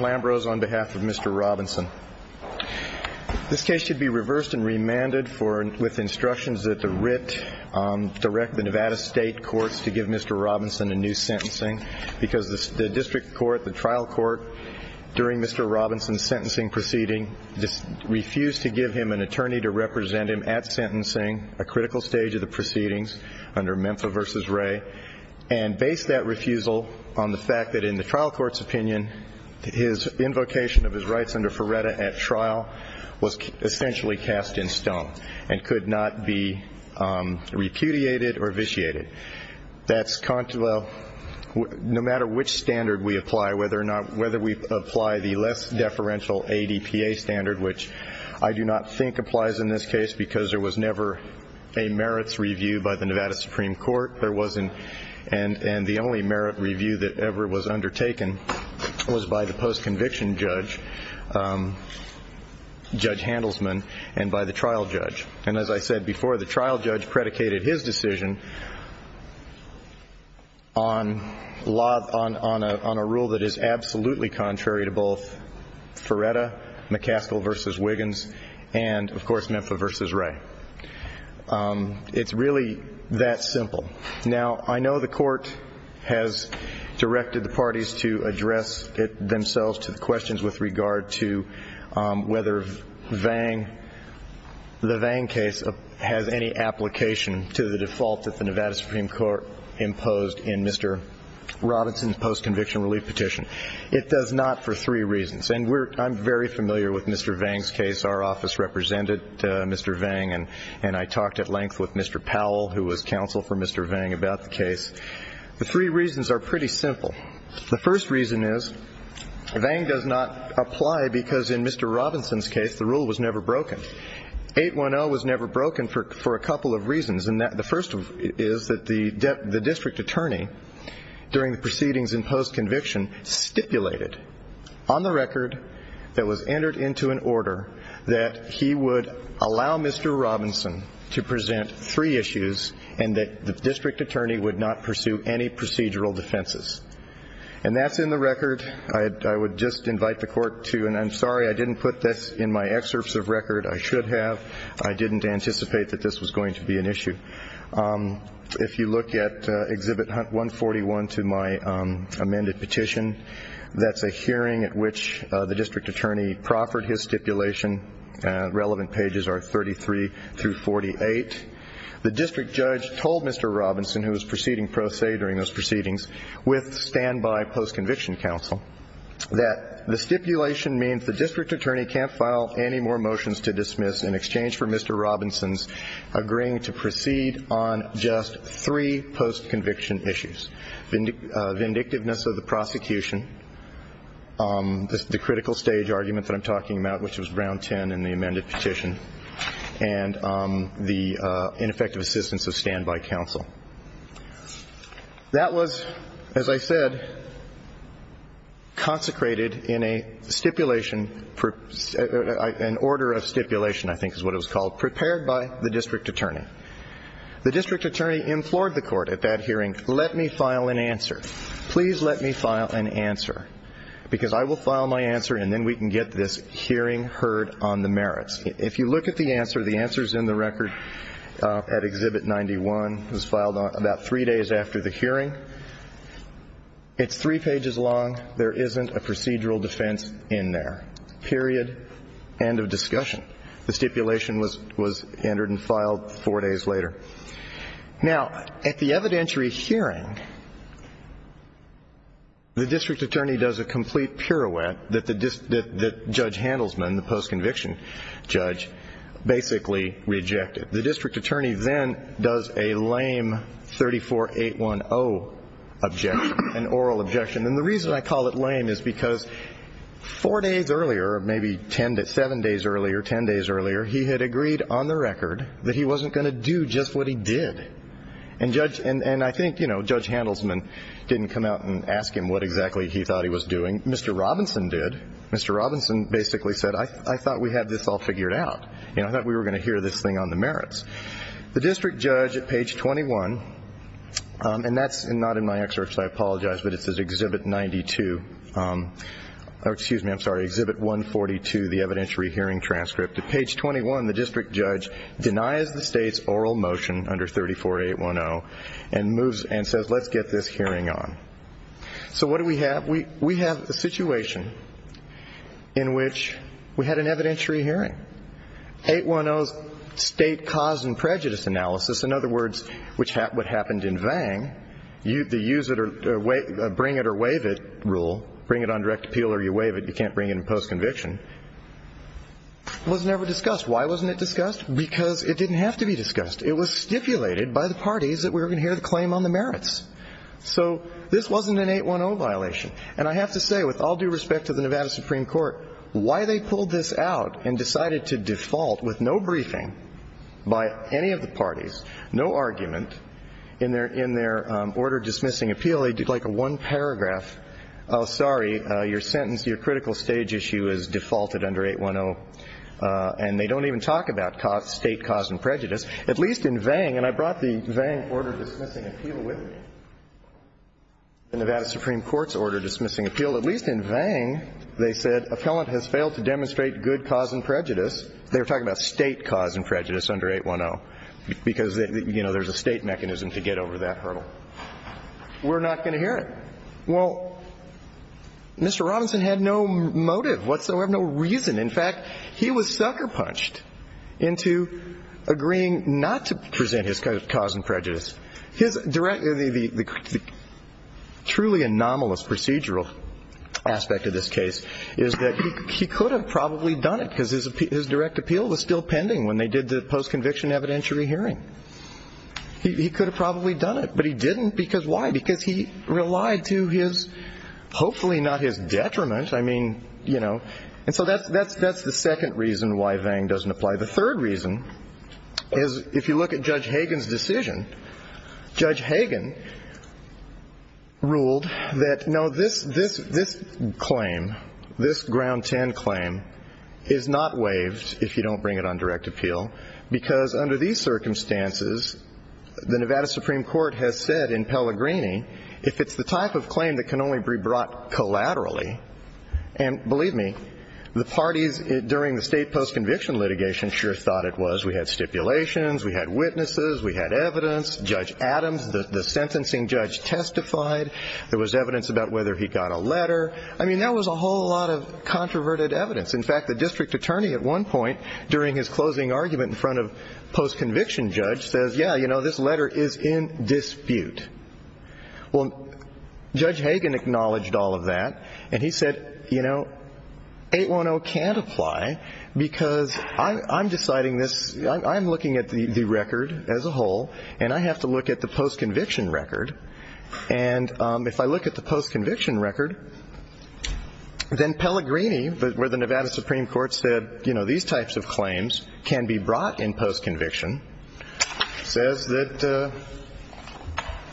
Lambrose on behalf of Mr. Robinson. This case should be reversed and remanded with instructions that the RIT direct the Nevada State Courts to give Mr. Robinson a new sentencing because the district court, the trial court, during Mr. Robinson's sentencing proceeding refused to give him an attorney to represent him at sentencing, a critical stage of the proceedings under Memphis v. Ray, and based that refusal on the fact that in the trial court's opinion, his invocation of his rights under Ferretta at trial was essentially cast in stone and could not be repudiated or vitiated. No matter which standard we apply, whether we apply the less deferential ADPA standard, which I do not think applies in this case because there was never a merits review by the Nevada Supreme Court, and the only merit review that ever was undertaken was by the post-conviction judge, Judge Handelsman, and by the trial judge. And as I said before, the trial judge predicated his decision on a rule that is absolutely contrary to both Ferretta, McCaskill v. Wiggins, and of course Memphis v. Ray. It's really that simple. Now, I know the court has directed the parties to address themselves to the questions with regard to whether the Vang case has any application to the default that the Nevada Supreme Court imposed in Mr. Robinson's post-conviction relief petition. It does not for three reasons. And I'm very familiar with Mr. Vang's case. Our office represented Mr. Vang, and I talked at length with Mr. Powell, who was counsel for Mr. Vang, about the case. The three reasons are pretty simple. The first reason is Vang does not apply because in Mr. Robinson's case the rule was never broken. 810 was never broken for a couple of reasons. And the first is that the district attorney, during the proceedings in post-conviction, stipulated on the record that was entered into an order that he would allow Mr. Robinson to present three issues and that the district attorney would not pursue any procedural defenses. And that's in the record. I would just invite the court to, and I'm sorry I didn't put this in my excerpts of record. I should have. I didn't anticipate that this was going to be an issue. If you look at Exhibit 141 to my amended petition, that's a hearing at which the district attorney proffered his stipulation. Relevant pages are 33 through 48. The district judge told Mr. Robinson, who was proceeding pro se during those proceedings, with standby post-conviction counsel, that the stipulation means the district attorney can't file any more motions to dismiss in exchange for Mr. Robinson's agreeing to proceed on just three post-conviction issues. Vindictiveness of the prosecution, the critical stage argument that I'm talking about, which was round 10 in the amended petition, and the ineffective assistance of standby counsel. That was, as I said, consecrated in a stipulation, an order of stipulation, I think is what it was called, prepared by the district attorney. The district attorney implored the court at that hearing, let me file an answer. Please let me file an answer, because I will file my answer and then we can get this hearing heard on the merits. If you look at the answer, the answer's in the record at Exhibit 91. It was filed about three days after the hearing. It's three pages long. There isn't a procedural defense in there, period, end of discussion. The stipulation was entered and filed four days later. Now, at the evidentiary hearing, the district attorney does a complete pirouette that Judge Handelsman, the post-conviction judge, basically rejected. The district attorney then does a lame 34810 objection, an oral objection. And the reason I call it lame is because four days earlier, maybe seven days earlier, ten days earlier, he had agreed on the record that he wasn't going to do just what he did. And I think, you know, Judge Handelsman didn't come out and ask him what exactly he thought he was doing. Mr. Robinson did. Mr. Robinson basically said, I thought we had this all figured out. You know, I thought we were going to hear this thing on the merits. The district judge at page 21, and that's not in my excerpts, I apologize, but it says Exhibit 92. Excuse me, I'm sorry, Exhibit 142, the evidentiary hearing transcript. At page 21, the district judge denies the state's oral motion under 34810 and says, let's get this hearing on. So what do we have? We have a situation in which we had an evidentiary hearing. 810's state cause and prejudice analysis, in other words, what happened in Vang, the use it or bring it or waive it rule, bring it on direct appeal or you waive it, you can't bring it in post-conviction, was never discussed. Why wasn't it discussed? Because it didn't have to be discussed. It was stipulated by the parties that we were going to hear the claim on the merits. So this wasn't an 810 violation. And I have to say, with all due respect to the Nevada Supreme Court, why they pulled this out and decided to default with no briefing by any of the parties, no argument in their order-dismissing appeal, they did like a one paragraph, oh, sorry, your sentence, your critical stage issue is defaulted under 810, and they don't even talk about state cause and prejudice, at least in Vang. And I brought the Vang order-dismissing appeal with me, the Nevada Supreme Court's order-dismissing appeal. At least in Vang, they said, appellant has failed to demonstrate good cause and prejudice. They were talking about state cause and prejudice under 810 because, you know, there's a state mechanism to get over that hurdle. We're not going to hear it. Well, Mr. Robinson had no motive whatsoever, no reason. In fact, he was sucker-punched into agreeing not to present his cause and prejudice. The truly anomalous procedural aspect of this case is that he could have probably done it because his direct appeal was still pending when they did the post-conviction evidentiary hearing. He could have probably done it, but he didn't. Because why? Because he relied to his, hopefully not his detriment. I mean, you know, and so that's the second reason why Vang doesn't apply. The third reason is if you look at Judge Hagan's decision, Judge Hagan ruled that, no, this claim, this Ground 10 claim is not waived if you don't bring it on direct appeal because under these circumstances, the Nevada Supreme Court has said in Pellegrini, if it's the type of claim that can only be brought collaterally, and believe me, the parties during the state post-conviction litigation sure thought it was. We had stipulations. We had witnesses. We had evidence. Judge Adams, the sentencing judge, testified. There was evidence about whether he got a letter. I mean, that was a whole lot of controverted evidence. In fact, the district attorney at one point during his closing argument in front of post-conviction judge says, yeah, you know, this letter is in dispute. Well, Judge Hagan acknowledged all of that, and he said, you know, 810 can't apply because I'm deciding this. I'm looking at the record as a whole, and I have to look at the post-conviction record. And if I look at the post-conviction record, then Pellegrini, where the Nevada Supreme Court said, you know, these types of claims can be brought in post-conviction, says that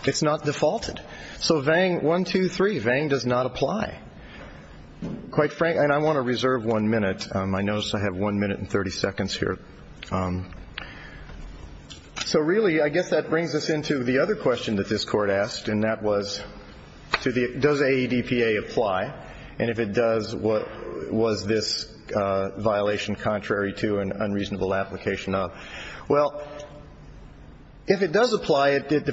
it's not defaulted. So Vang, one, two, three, Vang does not apply. Quite frankly, and I want to reserve one minute. I notice I have one minute and 30 seconds here. So really, I guess that brings us into the other question that this Court asked, and that was, does AEDPA apply? And if it does, was this violation contrary to an unreasonable application of? Well, if it does apply, it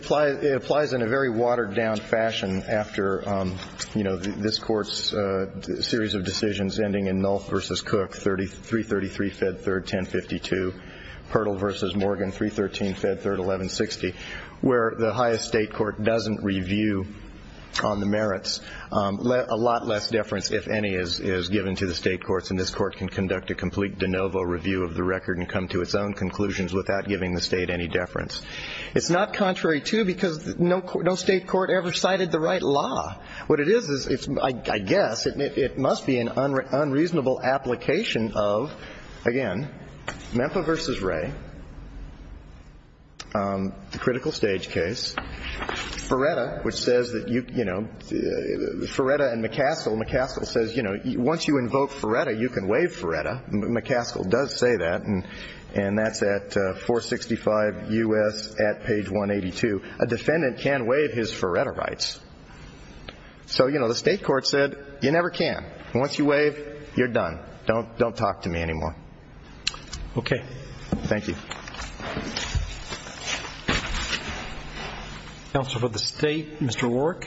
applies in a very watered-down fashion after, you know, this Court's series of decisions ending in Nolth v. Cook, 333, Fed 3rd, 1052, Pertle v. Morgan, 313, Fed 3rd, 1160, where the highest state court doesn't review on the merits. A lot less deference, if any, is given to the state courts, and this Court can conduct a complete de novo review of the record and come to its own conclusions without giving the state any deference. It's not contrary to because no state court ever cited the right law. What it is, I guess, it must be an unreasonable application of, again, Memphis v. Ray, the critical stage case. Feretta, which says that, you know, Feretta and McCaskill. McCaskill says, you know, once you invoke Feretta, you can waive Feretta. McCaskill does say that, and that's at 465 U.S. at page 182. A defendant can waive his Feretta rights. So, you know, the state court said, you never can. Once you waive, you're done. Don't talk to me anymore. Okay. Thank you. Thank you. Counsel for the State, Mr. Warwick.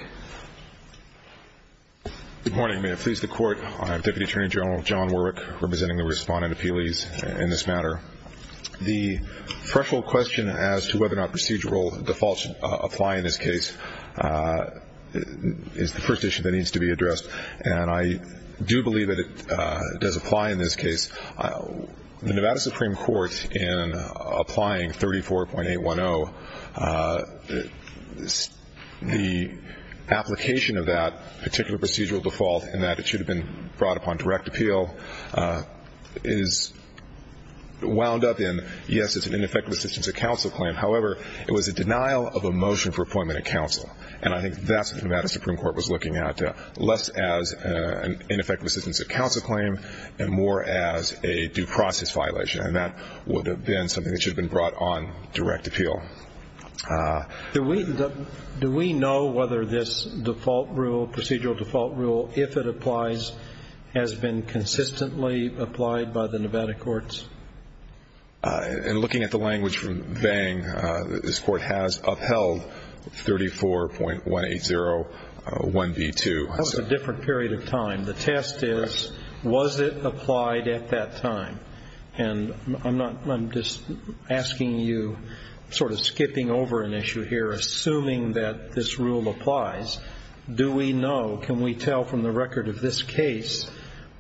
Good morning. May it please the Court. I'm Deputy Attorney General John Warwick, representing the respondent appellees in this matter. The threshold question as to whether or not procedural defaults apply in this case is the first issue that needs to be addressed, and I do believe that it does apply in this case. The Nevada Supreme Court, in applying 34.810, the application of that particular procedural default, and that it should have been brought upon direct appeal, is wound up in, yes, it's an ineffective assistance of counsel claim. However, it was a denial of a motion for appointment of counsel, and I think that's what the Nevada Supreme Court was looking at, less as an ineffective assistance of counsel claim and more as a due process violation, and that would have been something that should have been brought on direct appeal. Do we know whether this default rule, procedural default rule, if it applies, has been consistently applied by the Nevada courts? In looking at the language from Vang, this Court has upheld 34.1801B2. That was a different period of time. The test is, was it applied at that time? And I'm just asking you, sort of skipping over an issue here, assuming that this rule applies, do we know, can we tell from the record of this case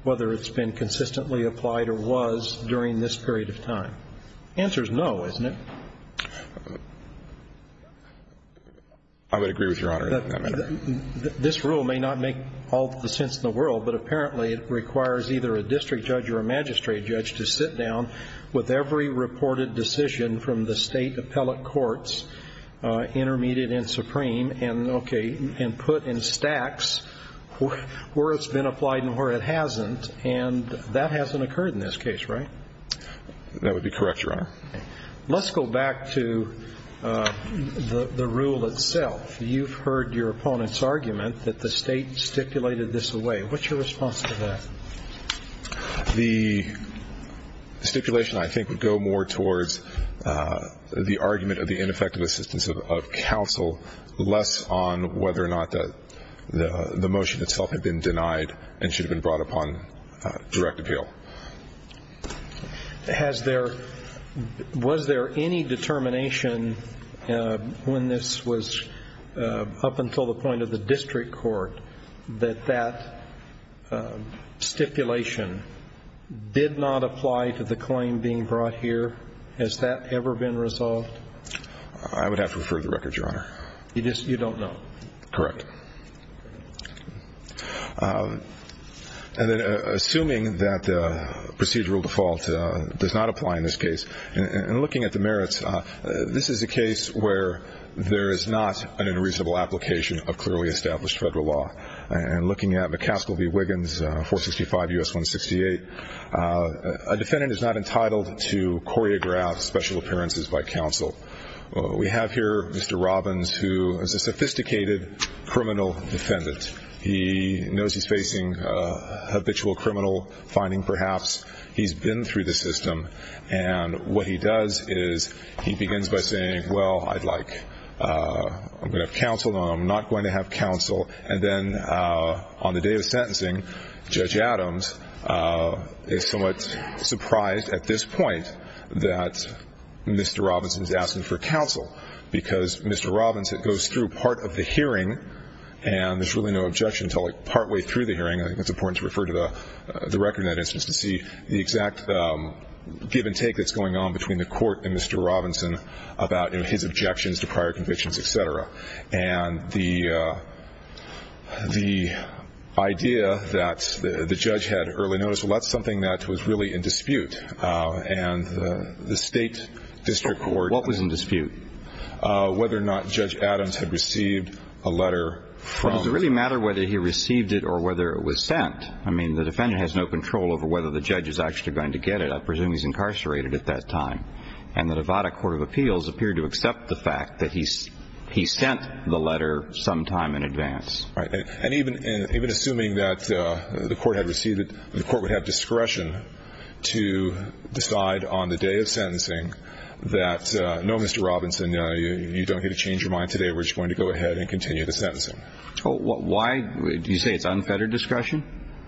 whether it's been consistently applied or was during this period of time? The answer is no, isn't it? I would agree with Your Honor in that matter. This rule may not make all the sense in the world, but apparently it requires either a district judge or a magistrate judge to sit down with every reported decision from the State appellate courts, intermediate and supreme, and put in stacks where it's been applied and where it hasn't, and that hasn't occurred in this case, right? That would be correct, Your Honor. Let's go back to the rule itself. You've heard your opponent's argument that the State stipulated this away. What's your response to that? The stipulation, I think, would go more towards the argument of the ineffective assistance of counsel, less on whether or not the motion itself had been denied and should have been brought upon direct appeal. Was there any determination when this was up until the point of the district court that that stipulation did not apply to the claim being brought here? Has that ever been resolved? I would have to refer to the record, Your Honor. You don't know? Correct. Assuming that procedural default does not apply in this case, and looking at the merits, this is a case where there is not an unreasonable application of clearly established federal law. And looking at McCaskill v. Wiggins, 465 U.S. 168, a defendant is not entitled to choreograph special appearances by counsel. We have here Mr. Robbins, who is a sophisticated criminal defendant. He knows he's facing habitual criminal finding, perhaps. He's been through the system, and what he does is he begins by saying, well, I'd like counsel, and I'm not going to have counsel. And then on the day of sentencing, Judge Adams is somewhat surprised at this point that Mr. Robbins is asking for counsel because Mr. Robbins goes through part of the hearing and there's really no objection until partway through the hearing. I think it's important to refer to the record in that instance to see the exact give and take that's going on between the court and Mr. Robbins about his objections to prior convictions, et cetera. And the idea that the judge had early notice, well, that's something that was really in dispute. And the State District Court ---- What was in dispute? Whether or not Judge Adams had received a letter from ---- Well, does it really matter whether he received it or whether it was sent? I mean, the defendant has no control over whether the judge is actually going to get it. I presume he's incarcerated at that time. And the Nevada Court of Appeals appeared to accept the fact that he sent the letter sometime in advance. Right. And even assuming that the court had received it, the court would have discretion to decide on the day of sentencing that, no, Mr. Robinson, you don't get to change your mind today. We're just going to go ahead and continue the sentencing. Why do you say it's unfettered discretion?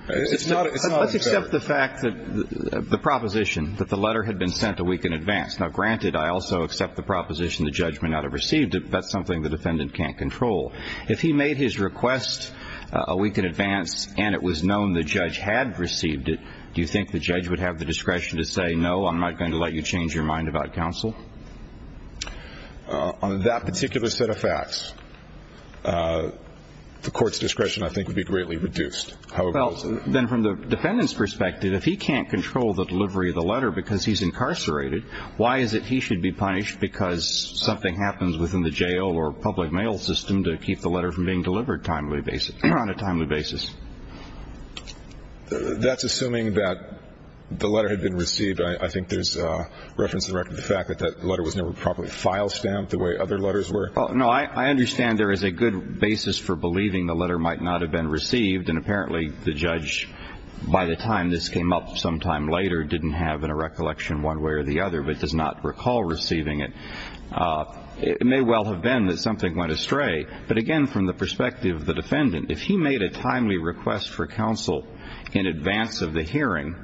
It's not unfettered. Let's accept the fact that the proposition that the letter had been sent a week in advance. Now, granted, I also accept the proposition the judge may not have received it. That's something the defendant can't control. If he made his request a week in advance and it was known the judge had received it, do you think the judge would have the discretion to say, no, I'm not going to let you change your mind about counsel? On that particular set of facts, the court's discretion, I think, would be greatly reduced. Well, then from the defendant's perspective, if he can't control the delivery of the letter because he's incarcerated, why is it he should be punished because something happens within the jail or public mail system to keep the letter from being delivered on a timely basis? That's assuming that the letter had been received. I think there's reference to the fact that that letter was never properly file stamped the way other letters were. No, I understand there is a good basis for believing the letter might not have been received, and apparently the judge, by the time this came up sometime later, didn't have in a recollection one way or the other but does not recall receiving it. It may well have been that something went astray. But, again, from the perspective of the defendant, if he made a timely request for counsel in advance of the hearing,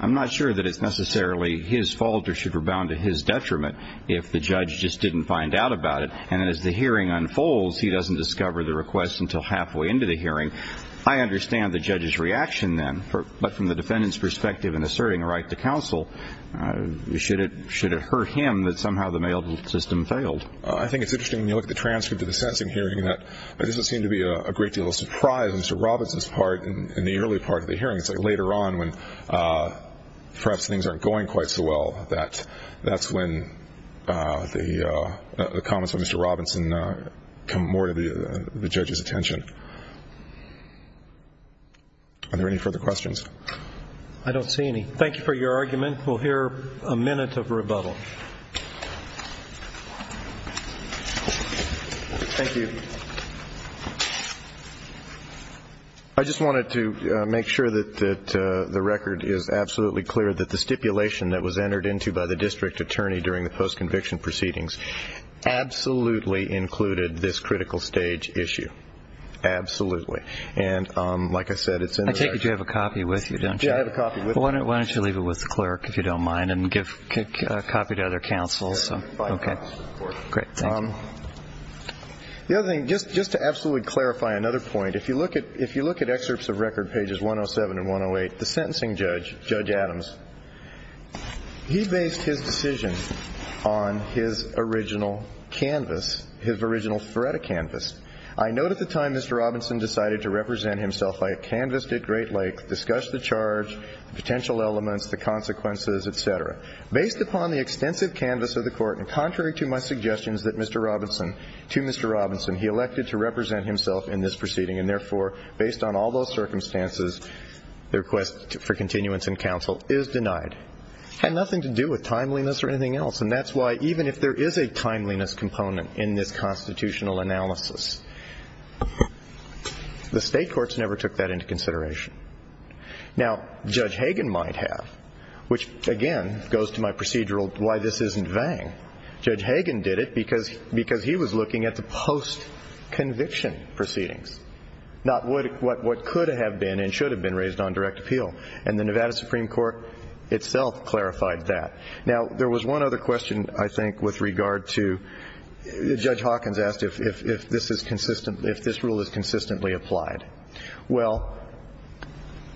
I'm not sure that it's necessarily his fault or should rebound to his detriment if the judge just didn't find out about it. And as the hearing unfolds, he doesn't discover the request until halfway into the hearing. I understand the judge's reaction then, but from the defendant's perspective in asserting a right to counsel, should it hurt him that somehow the mail system failed? I think it's interesting when you look at the transcript of the sentencing hearing that there doesn't seem to be a great deal of surprise in Mr. Robinson's part in the early part of the hearing. It's like later on when perhaps things aren't going quite so well that that's when the comments of Mr. Robinson come more to the judge's attention. Are there any further questions? I don't see any. Thank you for your argument. We'll hear a minute of rebuttal. Thank you. I just wanted to make sure that the record is absolutely clear that the stipulation that was entered into by the district attorney during the post-conviction proceedings absolutely included this critical stage issue. Absolutely. And like I said, it's in the record. I take it you have a copy with you, don't you? Yeah, I have a copy with me. Why don't you leave it with the clerk, if you don't mind, and give a copy to other counsels. Okay. Great. Thank you. The other thing, just to absolutely clarify another point, if you look at excerpts of record pages 107 and 108, the sentencing judge, Judge Adams, he based his decision on his original canvas, his original threat of canvas. I note at the time Mr. Robinson decided to represent himself, I have canvassed at great length, discussed the charge, the potential elements, the consequences, et cetera. Based upon the extensive canvas of the court, and contrary to my suggestions to Mr. Robinson, he elected to represent himself in this proceeding, and therefore, based on all those circumstances, the request for continuance in counsel is denied. It had nothing to do with timeliness or anything else, and that's why even if there is a timeliness component in this constitutional analysis, the state courts never took that into consideration. Now, Judge Hagan might have, which, again, goes to my procedural why this isn't Vang. Judge Hagan did it because he was looking at the post-conviction proceedings, not what could have been and should have been raised on direct appeal, and the Nevada Supreme Court itself clarified that. Now, there was one other question, I think, with regard to Judge Hawkins asked if this rule is consistently applied. Well,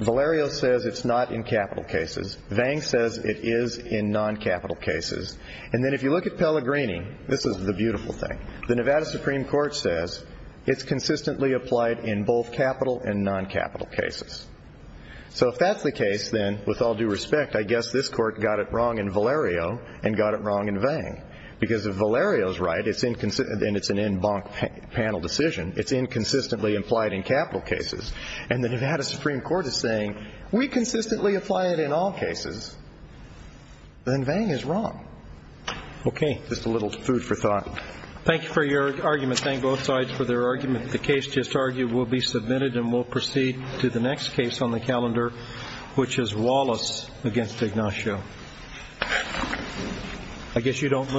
Valerio says it's not in capital cases. Vang says it is in non-capital cases. And then if you look at Pellegrini, this is the beautiful thing, the Nevada Supreme Court says it's consistently applied in both capital and non-capital cases. So if that's the case, then, with all due respect, I guess this Court got it wrong in Valerio and got it wrong in Vang, because if Valerio's right and it's an en banc panel decision, it's inconsistently implied in capital cases, and the Nevada Supreme Court is saying we consistently apply it in all cases, then Vang is wrong. Okay. Just a little food for thought. Thank you for your argument. Thank both sides for their argument. The case just argued will be submitted and will proceed to the next case on the calendar, which is Wallace against Ignacio. I guess you don't move. Okay.